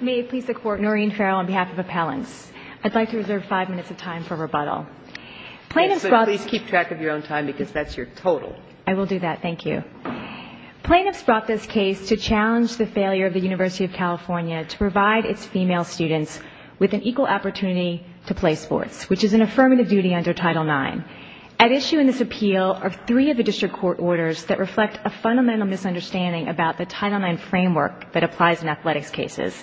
May it please the Court, Noreen Farrell on behalf of Appellants. I'd like to reserve five minutes of time for rebuttal. Yes, but please keep track of your own time because that's your total. I will do that. Thank you. Plaintiffs brought this case to challenge the failure of the University of California to provide its female students with an equal opportunity to play sports, which is an affirmative duty under Title IX. At issue in this appeal are three of the district court orders that reflect a fundamental misunderstanding about the Title IX framework that applies in athletics cases.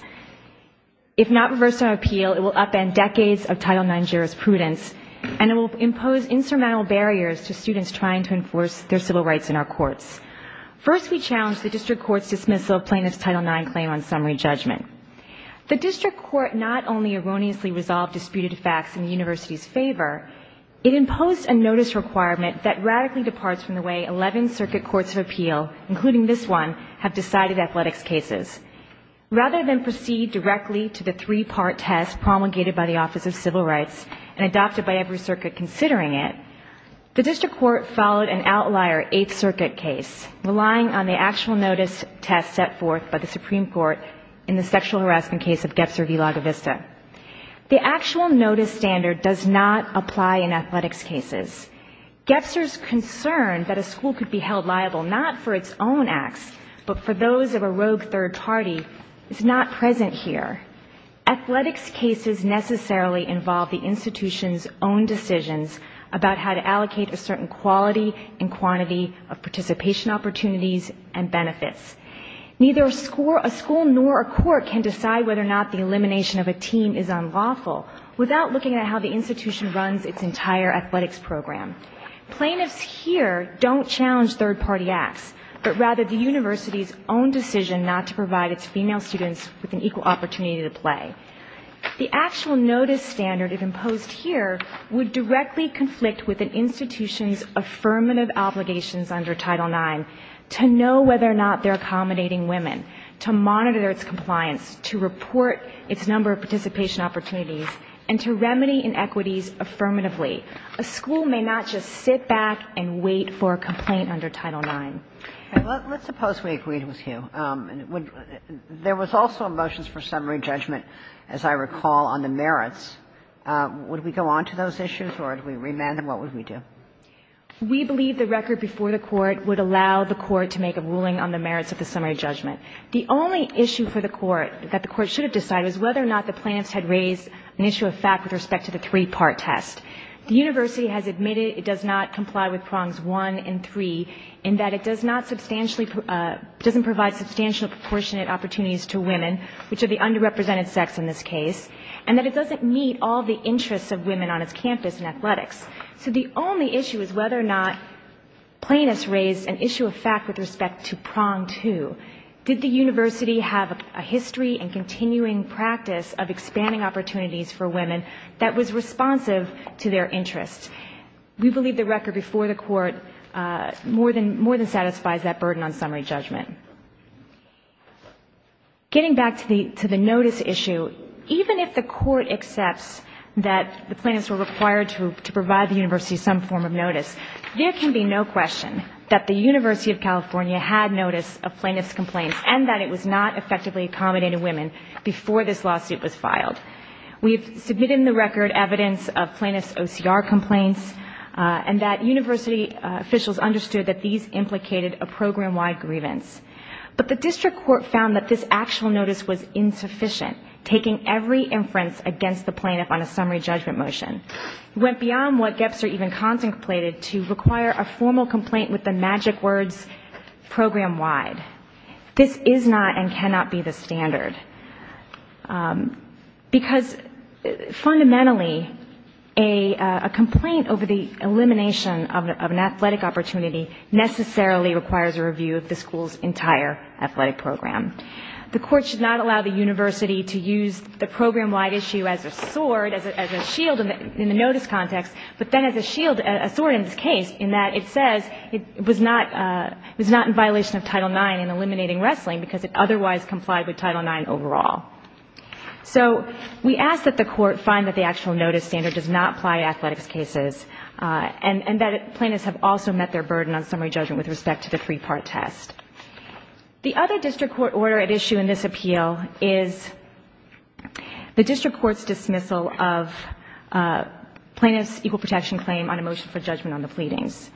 If not reversed on appeal, it will upend decades of Title IX jurisprudence and it will impose insurmountable barriers to students trying to enforce their civil rights in our courts. First, we challenge the district court's dismissal of plaintiff's Title IX claim on summary judgment. The district court not only erroneously resolved disputed facts in the university's favor, it imposed a notice requirement that radically departs from the way 11 circuit courts of appeal, including this one, have decided athletics cases. Rather than proceed directly to the three-part test promulgated by the Office of Civil Rights and adopted by every circuit considering it, the district court followed an outlier eighth circuit case, relying on the actual notice test set forth by the Supreme Court in the sexual harassment case of Gefzer v. Laga Vista. The actual notice standard does not apply in athletics cases. Gefzer's concern that a school could be held liable not for its own acts, but for those of a rogue third party, is not present here. Athletics cases necessarily involve the institution's own decisions about how to allocate a certain quality and quantity of participation opportunities and benefits. Neither a school nor a court can decide whether or not the elimination of a team is unlawful without looking at how the institution runs its entire athletics program. Plaintiffs here don't challenge third party acts, but rather the university's own decision not to provide its female students with an equal opportunity to play. The actual notice standard imposed here would directly conflict with an institution's affirmative obligations under Title IX to know whether or not they're accommodating women, to monitor its compliance, to report its number of participation opportunities, and to remedy inequities affirmatively. A school may not just sit back and wait for a complaint under Title IX. Let's suppose we agreed with you. There was also a motion for summary judgment, as I recall, on the merits. Would we go on to those issues or would we remand them? What would we do? We believe the record before the Court would allow the Court to make a ruling on the summary judgment. The only issue for the Court that the Court should have decided was whether or not the plaintiffs had raised an issue of fact with respect to the three-part test. The university has admitted it does not comply with prongs one and three, in that it doesn't provide substantial proportionate opportunities to women, which are the underrepresented sex in this case, and that it doesn't meet all the interests of women on its campus in athletics. So the only issue is whether or not plaintiffs raised an issue of fact with respect to prong two. Did the university have a history and continuing practice of expanding opportunities for women that was responsive to their interests? We believe the record before the Court more than satisfies that burden on summary judgment. Getting back to the notice issue, even if the Court accepts that the plaintiffs were required to provide the university some form of notice, there can be no question that the University of California had notice of plaintiffs' complaints and that it was not effectively accommodating women before this lawsuit was filed. We've submitted in the record evidence of plaintiffs' OCR complaints and that university officials understood that these implicated a program-wide grievance. But the district court found that this actual notice was insufficient, taking every inference against the plaintiff on a summary judgment motion. It went beyond what Gebser even contemplated to require a formal complaint with the magic words, program-wide. This is not and cannot be the standard, because fundamentally a complaint over the elimination of an athletic opportunity necessarily requires a review of the school's entire athletic program. The Court should not allow the university to use the program-wide issue as a sword, as a shield in the notice context, but then as a shield, a sword in this case, in that it says it was not in violation of Title IX in eliminating wrestling because it otherwise complied with Title IX overall. So we ask that the Court find that the actual notice standard does not apply to athletics cases and that plaintiffs have also met their burden on summary judgment with respect to the three-part test. The other district court order at issue in this appeal is the district court's dismissal of plaintiffs' equal protection claim on a motion for judgment on the pleadings.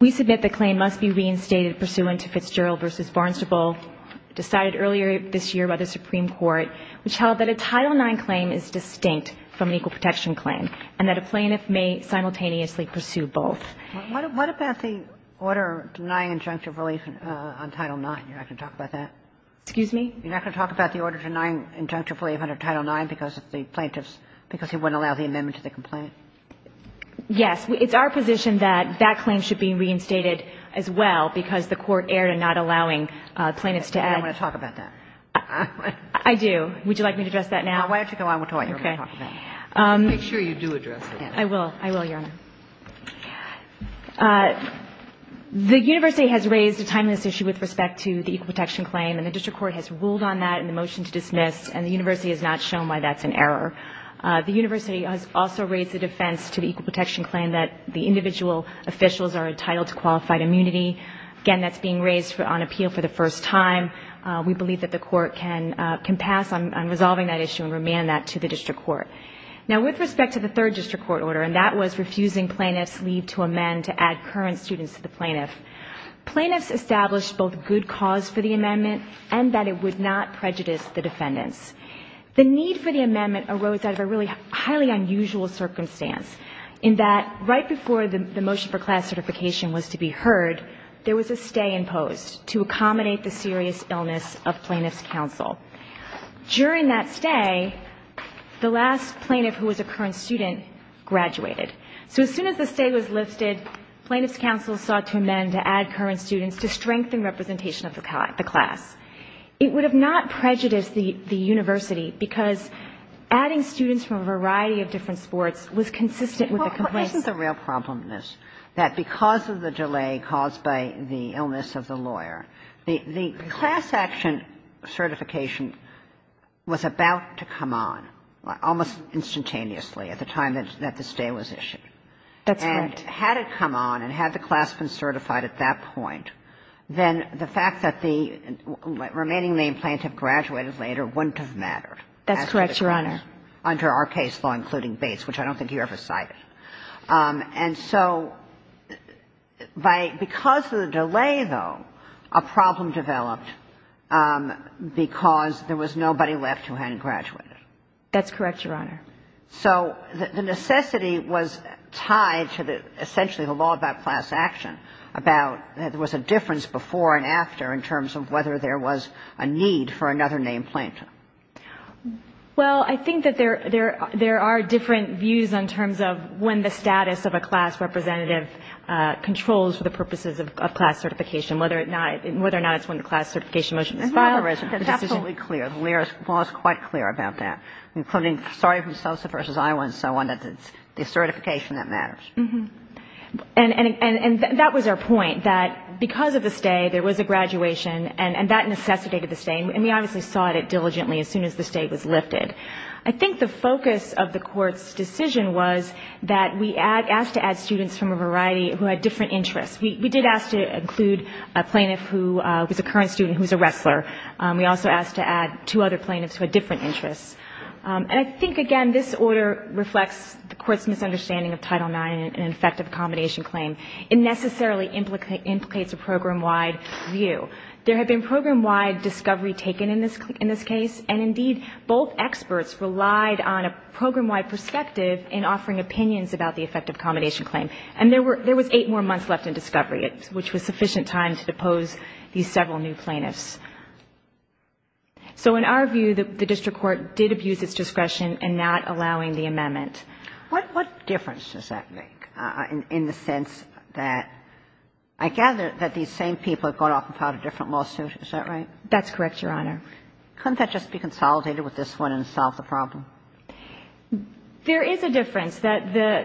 We submit the claim must be reinstated pursuant to Fitzgerald v. Barnstable, decided earlier this year by the Supreme Court, which held that a Title IX claim is distinct from an equal protection claim and that a plaintiff may simultaneously pursue both. Kagan. What about the order denying injunctive relief on Title IX? You're not going to talk about that? Excuse me? You're not going to talk about the order denying injunctive relief under Title IX because the plaintiffs, because he wouldn't allow the amendment to the complaint? Yes. It's our position that that claim should be reinstated as well because the Court erred in not allowing plaintiffs to add. You don't want to talk about that? I do. Would you like me to address that now? Why don't you go on? We'll talk. Okay. Make sure you do address it. I will. I will, Your Honor. The university has raised a timeless issue with respect to the equal protection claim, and the district court has ruled on that in the motion to dismiss, and the university has not shown why that's an error. The university has also raised the defense to the equal protection claim that the individual officials are entitled to qualified immunity. Again, that's being raised on appeal for the first time. We believe that the Court can pass on resolving that issue and remand that to the district court. Now, with respect to the third district court order, and that was refusing plaintiffs' leave to amend to add current students to the plaintiff, plaintiffs established both good cause for the amendment and that it would not prejudice the defendants. The need for the amendment arose out of a really highly unusual circumstance in that right before the motion for class certification was to be heard, there was a stay imposed to accommodate the serious illness of plaintiffs' counsel. During that stay, the last plaintiff who was a current student graduated. So as soon as the stay was lifted, plaintiffs' counsel sought to amend to add current students to strengthen representation of the class. It would have not prejudiced the university because adding students from a variety of different sports was consistent with the complaints. But isn't the real problem this? That because of the delay caused by the illness of the lawyer, the class action certification was about to come on, almost instantaneously at the time that the stay was issued. That's right. And had it come on and had the class been certified at that point, then the fact that the remaining main plaintiff graduated later wouldn't have mattered. That's correct, Your Honor. Under our case law, including Bates, which I don't think you ever cited. And so because of the delay, though, a problem developed because there was nobody left who hadn't graduated. That's correct, Your Honor. So the necessity was tied to essentially the law about class action, about there was a difference before and after in terms of whether there was a need for another main plaintiff. Well, I think that there are different views in terms of when the status of a class representative controls for the purposes of class certification, whether or not it's when the class certification motion is filed. It's absolutely clear. The law is quite clear about that, including starting from Sosa v. Iowa and so on. It's the certification that matters. And that was our point, that because of the stay, there was a graduation, and that necessitated the stay. And we obviously sought it diligently as soon as the stay was lifted. I think the focus of the Court's decision was that we asked to add students from a variety who had different interests. We did ask to include a plaintiff who was a current student who was a wrestler. We also asked to add two other plaintiffs who had different interests. And I think, again, this order reflects the Court's misunderstanding of Title IX and effective accommodation claim. It necessarily implicates a program-wide view. There had been program-wide discovery taken in this case. And, indeed, both experts relied on a program-wide perspective in offering opinions about the effective accommodation claim. And there were – there was eight more months left in discovery, which was sufficient time to depose these several new plaintiffs. So in our view, the district court did abuse its discretion in not allowing the amendment. What difference does that make in the sense that I gather that these same people have gone off and filed a different lawsuit. Is that right? That's correct, Your Honor. Couldn't that just be consolidated with this one and solve the problem? There is a difference. There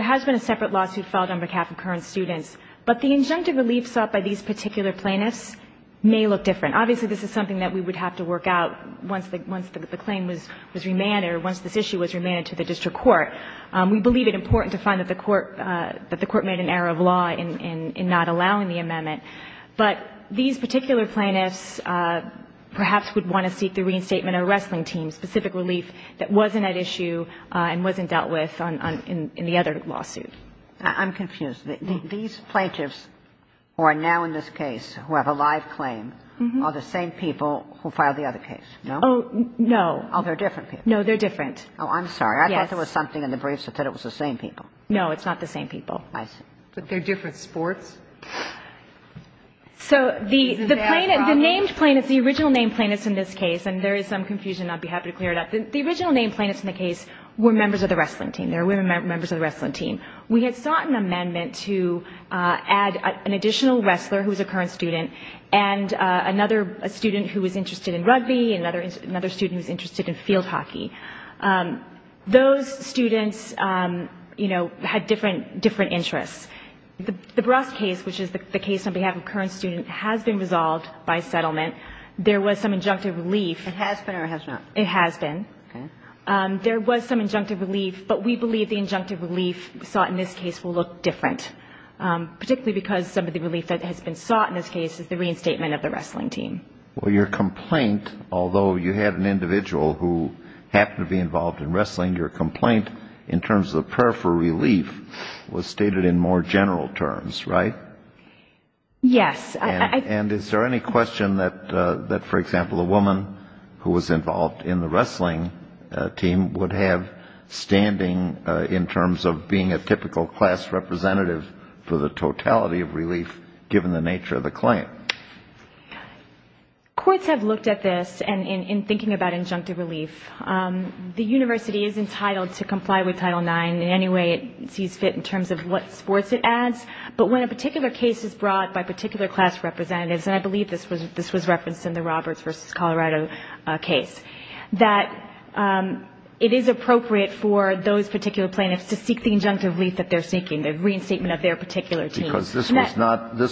has been a separate lawsuit filed on behalf of current students, but the injunctive relief sought by these particular plaintiffs may look different. Obviously, this is something that we would have to work out once the claim was remanded or once this issue was remanded to the district court. We believe it important to find that the court made an error of law in not allowing the amendment, but these particular plaintiffs perhaps would want to seek the reinstatement of a wrestling team, specific relief that wasn't at issue and wasn't dealt with in the other lawsuit. I'm confused. These plaintiffs who are now in this case who have a live claim are the same people who filed the other case, no? Oh, no. Oh, they're different people. No, they're different. Oh, I'm sorry. I thought there was something in the briefs that said it was the same people. No, it's not the same people. I see. But they're different sports. So the named plaintiffs, the original named plaintiffs in this case, and there is some confusion and I'd be happy to clear it up, the original named plaintiffs in the case were members of the wrestling team. They were members of the wrestling team. We had sought an amendment to add an additional wrestler who was a current student and another student who was interested in rugby and another student who was interested in field hockey. Those students, you know, had different interests. The Brost case, which is the case on behalf of a current student, has been resolved by settlement. There was some injunctive relief. It has been or it has not? It has been. Okay. There was some injunctive relief, but we believe the injunctive relief sought in this case will look different, particularly because some of the relief that has been sought in this case is the reinstatement of the wrestling team. Well, your complaint, although you had an individual who happened to be involved in wrestling, your complaint in terms of the prayer for relief was stated in more general terms, right? Yes. And is there any question that, for example, a woman who was involved in the wrestling team would have standing in terms of being a typical class representative for the totality of relief, given the nature of the claim? Courts have looked at this, and in thinking about injunctive relief, the university is entitled to comply with Title IX in any way it sees fit in terms of what sports it adds. But when a particular case is brought by particular class representatives, and I believe this was referenced in the Roberts v. Colorado case, that it is appropriate for those particular plaintiffs to seek the injunctive relief that they're seeking, the reinstatement of their particular team. Because this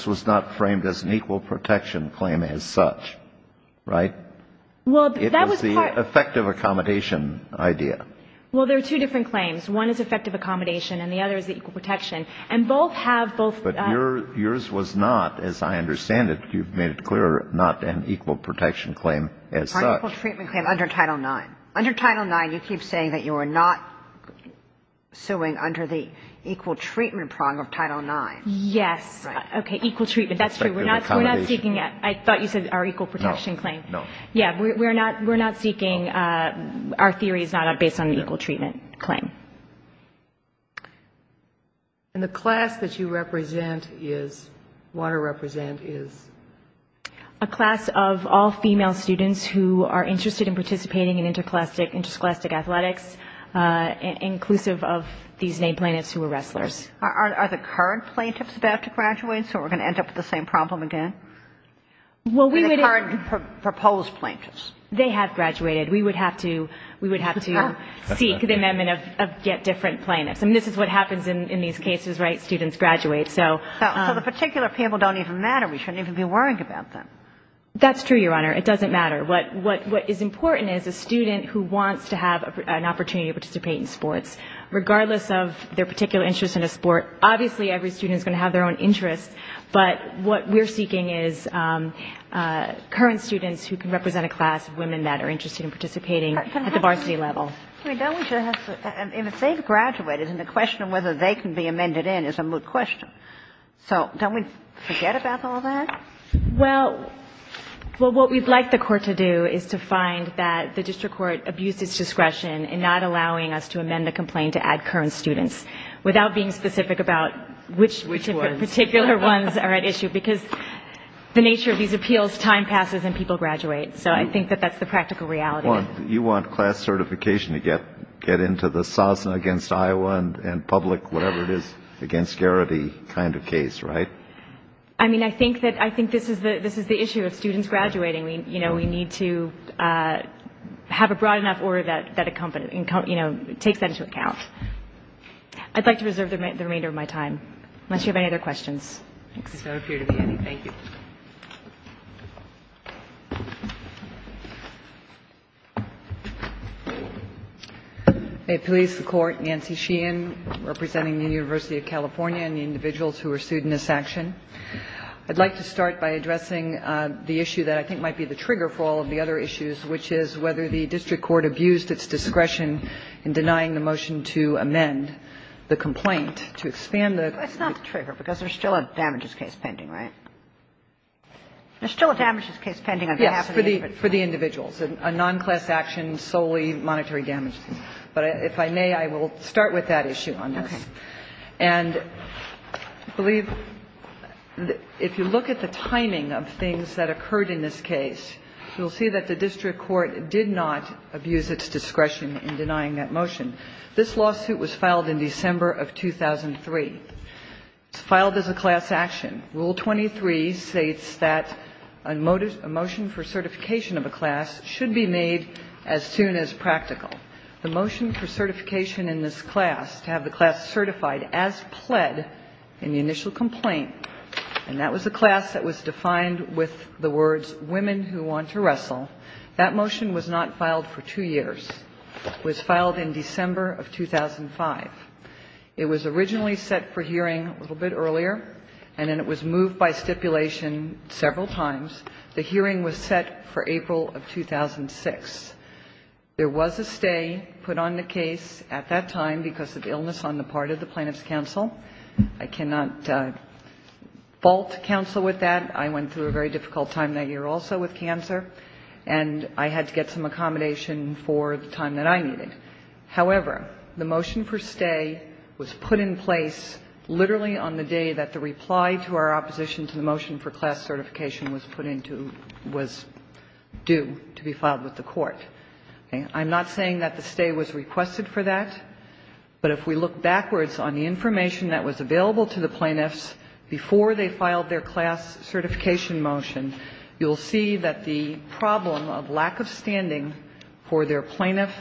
was not framed as an equal protection claim as such, right? Well, that was part of it. It was the effective accommodation idea. Well, there are two different claims. One is effective accommodation, and the other is equal protection. And both have both — But yours was not, as I understand it, you've made it clear, not an equal protection claim as such. An equal treatment claim under Title IX. Under Title IX, you keep saying that you are not suing under the equal treatment prong of Title IX. Yes. Okay. Equal treatment. That's true. We're not seeking it. I thought you said our equal protection claim. No. No. Yeah. We're not seeking — our theory is not based on an equal treatment claim. And the class that you represent is — want to represent is? A class of all female students who are interested in participating in interscholastic athletics, inclusive of these named plaintiffs who are wrestlers. Are the current plaintiffs about to graduate, so we're going to end up with the same problem again? Well, we would — The current proposed plaintiffs. They have graduated. We would have to — we would have to seek the amendment of get different plaintiffs. I mean, this is what happens in these cases, right? Students graduate. So — So the particular people don't even matter. We shouldn't even be worrying about them. That's true, Your Honor. It doesn't matter. What is important is a student who wants to have an opportunity to participate in sports, regardless of their particular interest in a sport. Obviously, every student is going to have their own interests, but what we're seeking is current students who can represent a class of women that are interested in participating at the varsity level. I mean, don't we just have to — and if they've graduated, then the question of whether they can be amended in is a moot question. So don't we forget about all that? Well, what we'd like the Court to do is to find that the district court abuses discretion in not allowing us to amend the complaint to add current students, without being specific about which particular ones are at issue, because the nature of these appeals, time passes and people graduate. So I think that that's the practical reality. You want class certification to get into the SOSNA against Iowa and public, whatever it is, against Garrity kind of case, right? I mean, I think that — I think this is the issue of students graduating. You know, we need to have a broad enough order that accompanies — you know, takes that into account. I'd like to reserve the remainder of my time, unless you have any other questions. Thanks. I don't appear to be any. Thank you. Police, the Court, Nancy Sheehan, representing the University of California and the individuals who were sued in this action. I'd like to start by addressing the issue that I think might be the trigger for all of the other issues, which is whether the district court abused its discretion in denying the motion to amend the complaint to expand the — That's not the trigger, because there's still a damages case pending, right? There's still a damages case pending on behalf of the — Yes, for the individuals. A nonclass action solely monetary damages. But if I may, I will start with that issue on this. Okay. And I believe that if you look at the timing of things that occurred in this case, you'll see that the district court did not abuse its discretion in denying that motion. This lawsuit was filed in December of 2003. It's filed as a class action. Rule 23 states that a motion for certification of a class should be made as soon as practical. The motion for certification in this class, to have the class certified as pled in the initial complaint, and that was a class that was defined with the words, women who want to wrestle, that motion was not filed for two years. It was filed in December of 2005. It was originally set for hearing a little bit earlier, and then it was moved by stipulation several times. The hearing was set for April of 2006. There was a stay put on the case at that time because of illness on the part of the plaintiff's counsel. I cannot fault counsel with that. I went through a very difficult time that year also with cancer, and I had to get some accommodation for the time that I needed. However, the motion for stay was put in place literally on the day that the reply to our opposition to the motion for class certification was put into — was due to be put into court. I'm not saying that the stay was requested for that, but if we look backwards on the information that was available to the plaintiffs before they filed their class certification motion, you'll see that the problem of lack of standing for their plaintiff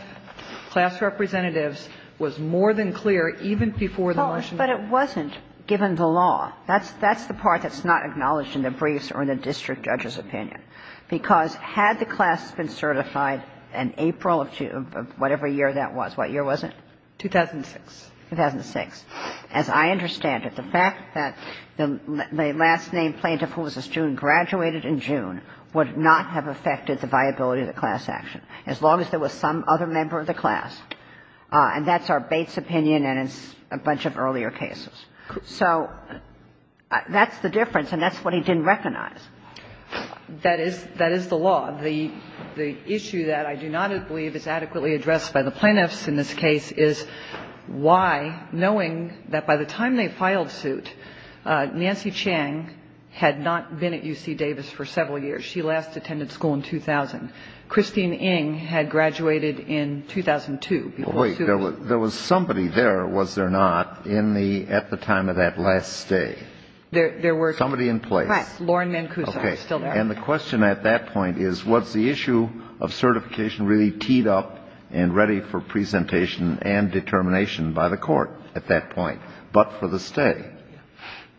class representatives was more than clear even before the motion was put in place. But it wasn't given the law. That's the part that's not acknowledged in the briefs or in the district judge's opinion, because had the class been certified in April of whatever year that was. What year was it? 2006. 2006. As I understand it, the fact that the last-name plaintiff who was a student graduated in June would not have affected the viability of the class action as long as there was some other member of the class, and that's our Bates opinion and a bunch of earlier cases. So that's the difference, and that's what he didn't recognize. That is the law. The issue that I do not believe is adequately addressed by the plaintiffs in this case is why, knowing that by the time they filed suit, Nancy Chang had not been at UC Davis for several years. She last attended school in 2000. Christine Ng had graduated in 2002. There was somebody there, was there not, in the at the time of that last stay? There were. Somebody in place. Right. Lauren Mancuso was still there. Okay. And the question at that point is, was the issue of certification really teed up and ready for presentation and determination by the Court at that point, but for the stay?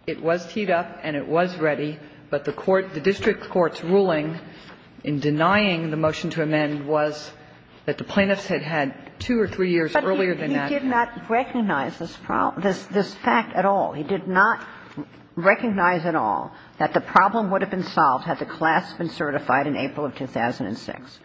It was teed up and it was ready, but the court, the district court's ruling in denying the motion to amend was that the plaintiffs had had two or three years earlier than that. But he did not recognize this problem, this fact at all. He did not recognize at all that the problem would have been solved had the class been certified in April of 2006.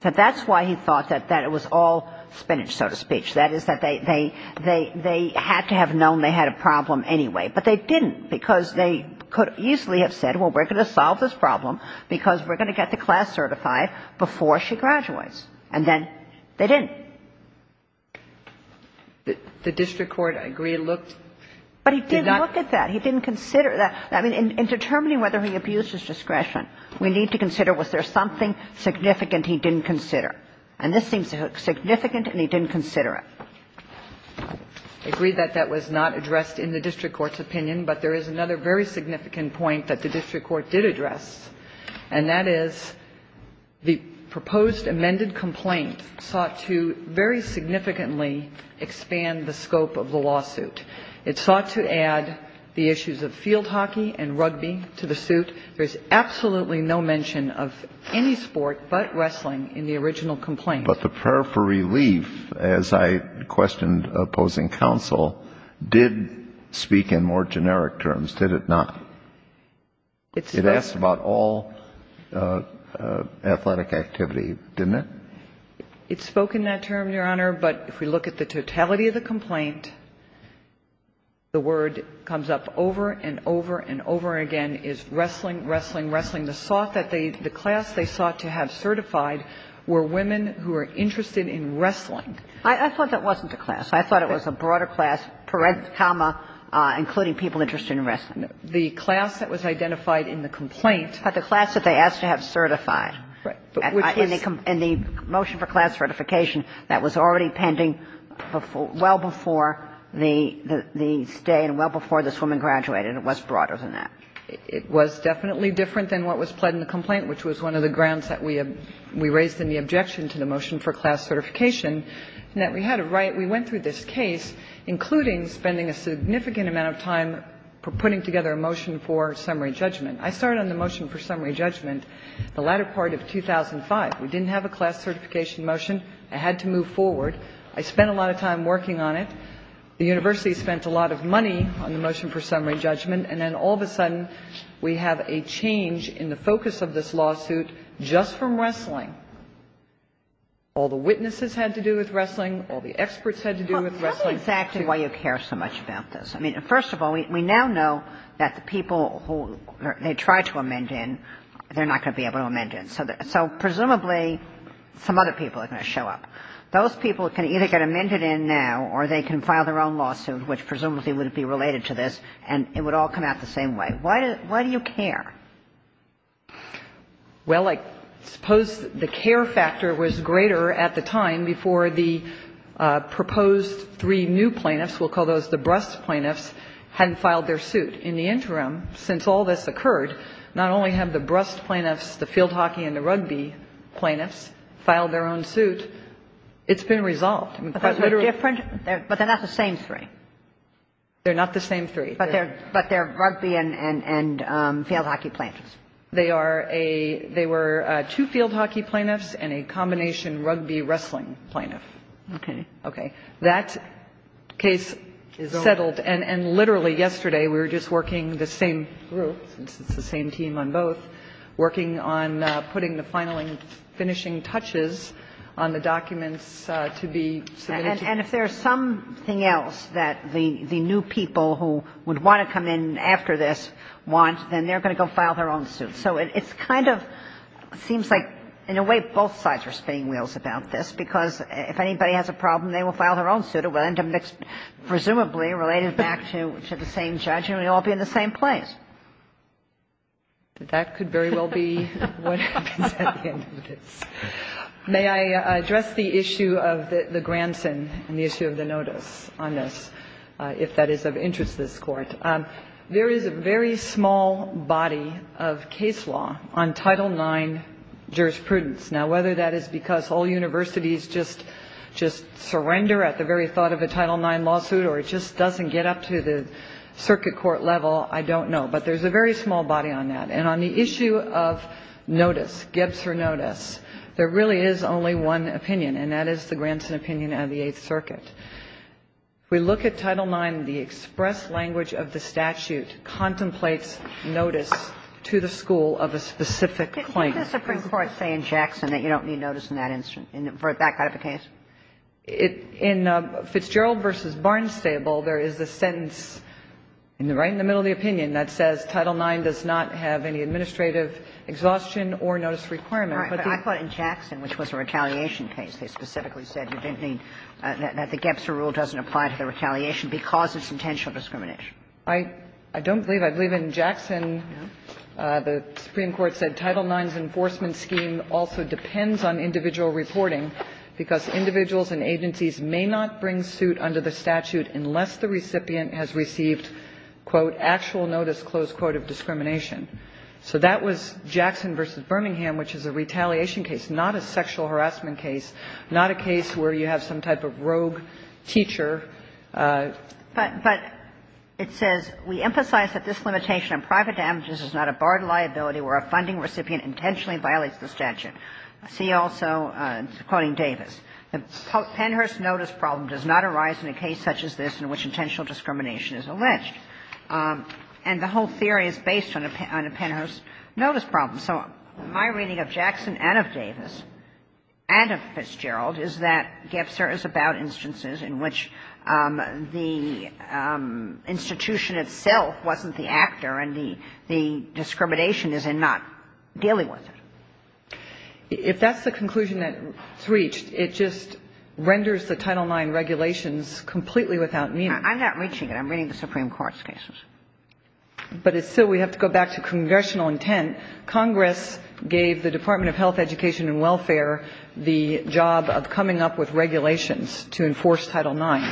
That's why he thought that it was all spinach, so to speak. That is, that they had to have known they had a problem anyway, but they didn't because they could easily have said, well, we're going to solve this problem because we're going to get the class certified before she graduates. And then they didn't. The district court, I agree, looked. But he did look at that. He didn't consider that. I mean, in determining whether he abused his discretion, we need to consider was there something significant he didn't consider. And this seems significant and he didn't consider it. I agree that that was not addressed in the district court's opinion, but there is another very significant point that the district court did address. And that is the proposed amended complaint sought to very significantly expand the scope of the lawsuit. It sought to add the issues of field hockey and rugby to the suit. There's absolutely no mention of any sport but wrestling in the original complaint. But the prayer for relief, as I questioned opposing counsel, did speak in more generic terms, did it not? It asked about all athletic activity, didn't it? It spoke in that term, Your Honor. But if we look at the totality of the complaint, the word comes up over and over and over again is wrestling, wrestling, wrestling. The class they sought to have certified were women who were interested in wrestling. I thought that wasn't a class. I thought it was a broader class, parens, including people interested in wrestling. The class that was identified in the complaint. But the class that they asked to have certified. Right. In the motion for class certification, that was already pending well before the stay and well before this woman graduated. It was broader than that. It was definitely different than what was pled in the complaint, which was one of the grounds that we raised in the objection to the motion for class certification, and that we had a right. We went through this case, including spending a significant amount of time putting together a motion for summary judgment. I started on the motion for summary judgment the latter part of 2005. We didn't have a class certification motion. I had to move forward. I spent a lot of time working on it. The university spent a lot of money on the motion for summary judgment. And then all of a sudden we have a change in the focus of this lawsuit just from wrestling. All the witnesses had to do with wrestling. All the experts had to do with wrestling. Tell me exactly why you care so much about this. I mean, first of all, we now know that the people who they tried to amend in, they're not going to be able to amend in. So presumably some other people are going to show up. Those people can either get amended in now or they can file their own lawsuit, which presumably would be related to this, and it would all come out the same way. Why do you care? Well, I suppose the care factor was greater at the time before the proposed three new plaintiffs, we'll call those the brust plaintiffs, hadn't filed their suit. In the interim, since all this occurred, not only have the brust plaintiffs, the field hockey and the rugby plaintiffs, filed their own suit, it's been resolved. But they're not the same three. They're not the same three. But they're rugby and field hockey plaintiffs. They were two field hockey plaintiffs and a combination rugby wrestling plaintiff. Okay. Okay. That case settled, and literally yesterday we were just working the same group, since it's the same team on both, working on putting the final and finishing touches on the documents to be submitted. And if there's something else that the new people who would want to come in after this want, then they're going to go file their own suit. So it's kind of seems like in a way both sides are spinning wheels about this, because if anybody has a problem, they will file their own suit. It will end up presumably related back to the same judge, and we'll all be in the same place. That could very well be what happens at the end of this. May I address the issue of the grandson and the issue of the notice on this, if that is of interest to this Court? There is a very small body of case law on Title IX jurisprudence. Now, whether that is because all universities just surrender at the very thought of a Title IX lawsuit or it just doesn't get up to the circuit court level, I don't know. But there's a very small body on that. And on the issue of notice, Giebser notice, there really is only one opinion, and that is the grandson opinion of the Eighth Circuit. If we look at Title IX, the express language of the statute contemplates notice to the school of a specific claim. Can the Supreme Court say in Jackson that you don't need notice in that instance for that kind of a case? In Fitzgerald v. Barnes-Stable, there is a sentence right in the middle of the opinion that says Title IX does not have any administrative exhaustion or notice requirement. But the other thing is that in Jackson, which was a retaliation case, they specifically said you didn't need, that the Giebser rule doesn't apply to the retaliation because it's intentional discrimination. I don't believe. I believe in Jackson, the Supreme Court said Title IX's enforcement scheme also depends on individual reporting because individuals and agencies may not bring suit under the statute unless the recipient has received, quote, actual notice, close quote, of discrimination. So that was Jackson v. Birmingham, which is a retaliation case, not a sexual harassment case, not a case where you have some type of rogue teacher. But it says, We emphasize that this limitation on private damages is not a barred liability where a funding recipient intentionally violates the statute. See also, quoting Davis, the Pennhurst notice problem does not arise in a case such as this in which intentional discrimination is alleged. And the whole theory is based on a Pennhurst notice problem. So my reading of Jackson and of Davis and of Fitzgerald is that Giebser is about instances in which the institution itself wasn't the actor and the discrimination is in not dealing with it. If that's the conclusion that's reached, it just renders the Title IX regulations completely without meaning. I'm not reaching it. I'm reading the Supreme Court's cases. But it's still we have to go back to congressional intent. Congress gave the Department of Health, Education and Welfare the job of coming up with regulations to enforce Title IX.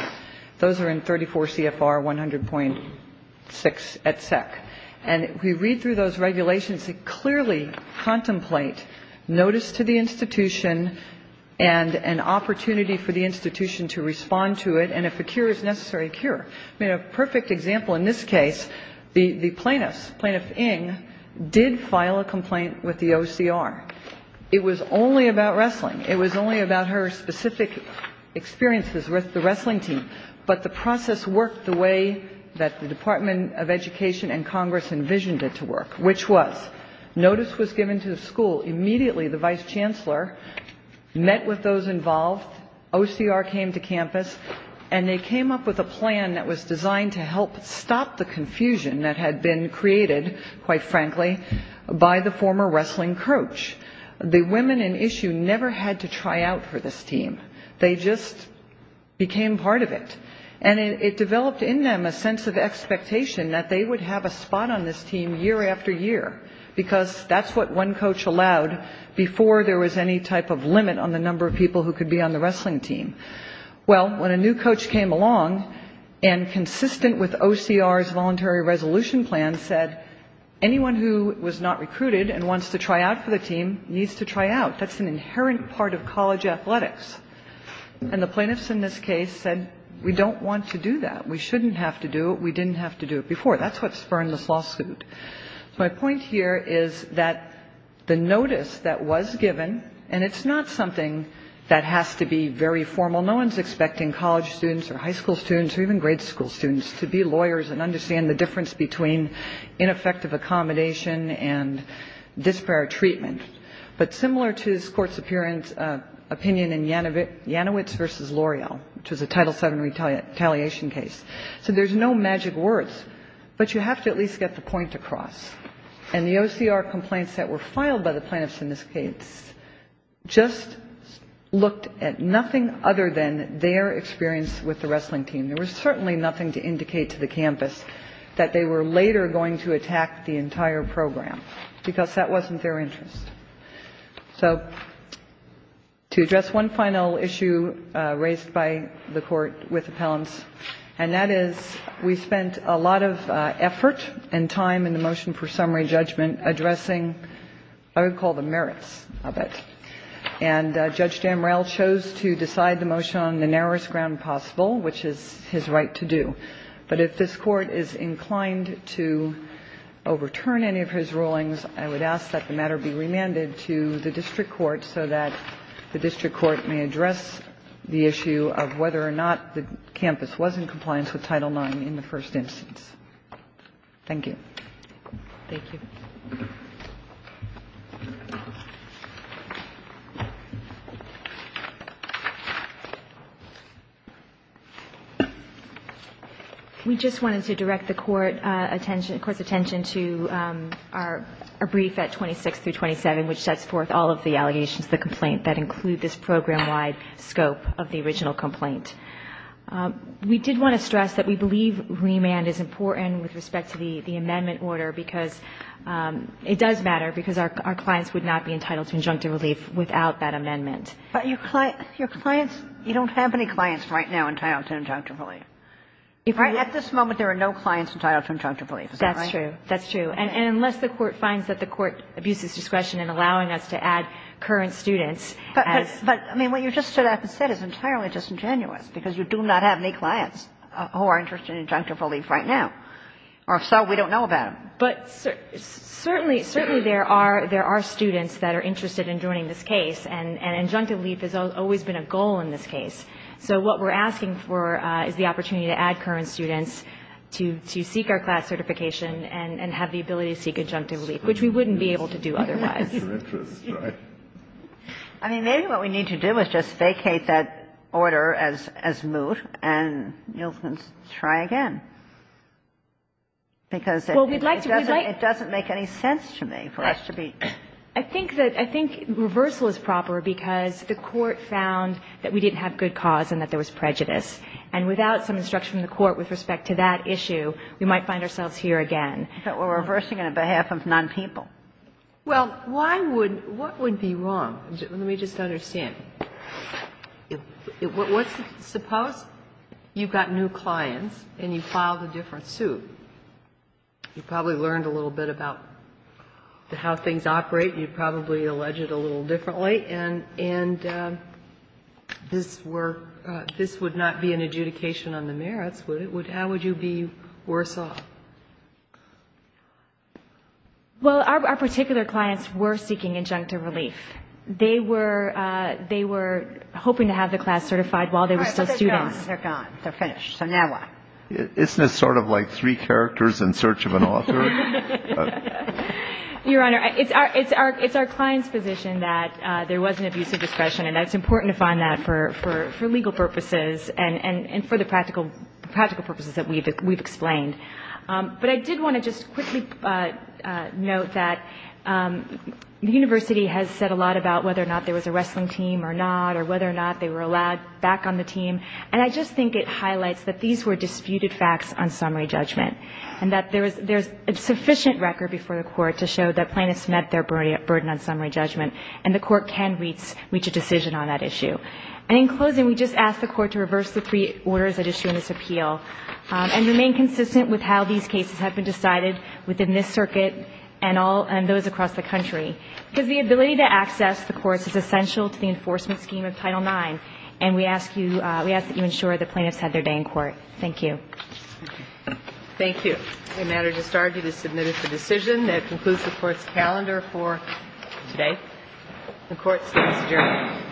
Those are in 34 CFR 100.6 et sec. And we read through those regulations to clearly contemplate notice to the institution and an opportunity for the institution to respond to it, and if a cure is necessary, cure. I mean, a perfect example in this case, the plaintiffs, Plaintiff Ng, did file a complaint with the OCR. It was only about wrestling. It was only about her specific experiences with the wrestling team. But the process worked the way that the Department of Education and Congress envisioned it to work, which was notice was given to the school. Immediately, the vice chancellor met with those involved. OCR came to campus and they came up with a plan that was designed to help stop the confusion that had been created, quite frankly, by the former wrestling coach. The women in issue never had to try out for this team. They just became part of it. And it developed in them a sense of expectation that they would have a spot on this team year after year, because that's what one coach allowed before there was any type of limit on the number of people who could be on the wrestling team. Well, when a new coach came along and, consistent with OCR's voluntary resolution plan, said, anyone who was not recruited and wants to try out for the team needs to try out. That's an inherent part of college athletics. And the plaintiffs in this case said, we don't want to do that. We shouldn't have to do it. We didn't have to do it before. That's what spurned this lawsuit. My point here is that the notice that was given, and it's not something that has to be very formal. No one's expecting college students or high school students or even grade school students to be lawyers and understand the difference between ineffective accommodation and disparate treatment. But similar to this Court's opinion in Janowitz v. L'Oreal, which was a Title VII retaliation case. So there's no magic words, but you have to at least get the point across. And the OCR complaints that were filed by the plaintiffs in this case just looked at nothing other than their experience with the wrestling team. There was certainly nothing to indicate to the campus that they were later going to attack the entire program, because that wasn't their interest. So to address one final issue raised by the Court with appellants, and that is we spent a lot of effort and time in the motion for summary judgment addressing what we call the merits of it. And Judge Damrell chose to decide the motion on the narrowest ground possible, which is his right to do. But if this Court is inclined to overturn any of his rulings, I would ask that the matter be remanded to the District Court so that the District Court may address the issue of whether or not the campus was in compliance with Title IX in the first instance. Thank you. Thank you. We just wanted to direct the Court's attention to our brief at 26 through 27, which sets forth all of the allegations of the complaint that include this program-wide scope of the original complaint. We did want to stress that we believe remand is important with respect to the amendment order, because it does matter, because our clients would not be entitled to injunctive relief without that amendment. But your clients, you don't have any clients right now entitled to injunctive relief. Right at this moment, there are no clients entitled to injunctive relief. Is that right? That's true. That's true. And unless the Court finds that the Court abuses discretion in allowing us to add current students. But what you just said is entirely disingenuous, because you do not have any clients who are interested in injunctive relief right now. Or if so, we don't know about them. But certainly there are students that are interested in joining this case, and injunctive relief has always been a goal in this case. So what we're asking for is the opportunity to add current students to seek our class certification and have the ability to seek injunctive relief, which we wouldn't be able to do otherwise. I mean, maybe what we need to do is just vacate that order as moot, and you'll just try again. Because it doesn't make any sense to me for us to be. I think that, I think reversal is proper, because the Court found that we didn't have good cause and that there was prejudice. And without some instruction from the Court with respect to that issue, we might find ourselves here again. But we're reversing it on behalf of non-people. Well, why would, what would be wrong? Let me just understand. Suppose you've got new clients and you filed a different suit. You probably learned a little bit about how things operate. You probably allege it a little differently. And this would not be an adjudication on the merits, would it? How would you be worse off? Well, our particular clients were seeking injunctive relief. They were hoping to have the class certified while they were still students. All right, but they're gone. They're gone. They're finished. So now what? Isn't this sort of like three characters in search of an author? Your Honor, it's our client's position that there was an abuse of discretion. And that it's important to find that for legal purposes and for the practical purposes that we've explained. But I did want to just quickly note that the University has said a lot about whether or not there was a wrestling team or not or whether or not they were allowed back on the team. And I just think it highlights that these were disputed facts on summary judgment. And that there's a sufficient record before the Court to show that plaintiffs met their burden on summary judgment. And the Court can reach a decision on that issue. And in closing, we just ask the Court to reverse the three orders at issue in this appeal and remain consistent with how these cases have been decided within this circuit and those across the country. Because the ability to access the courts is essential to the enforcement scheme of Title IX. And we ask that you ensure that plaintiffs have their day in court. Thank you. Thank you. If it's a matter to start, it is submitted for decision. That concludes the Court's calendar for today. The Court stands adjourned.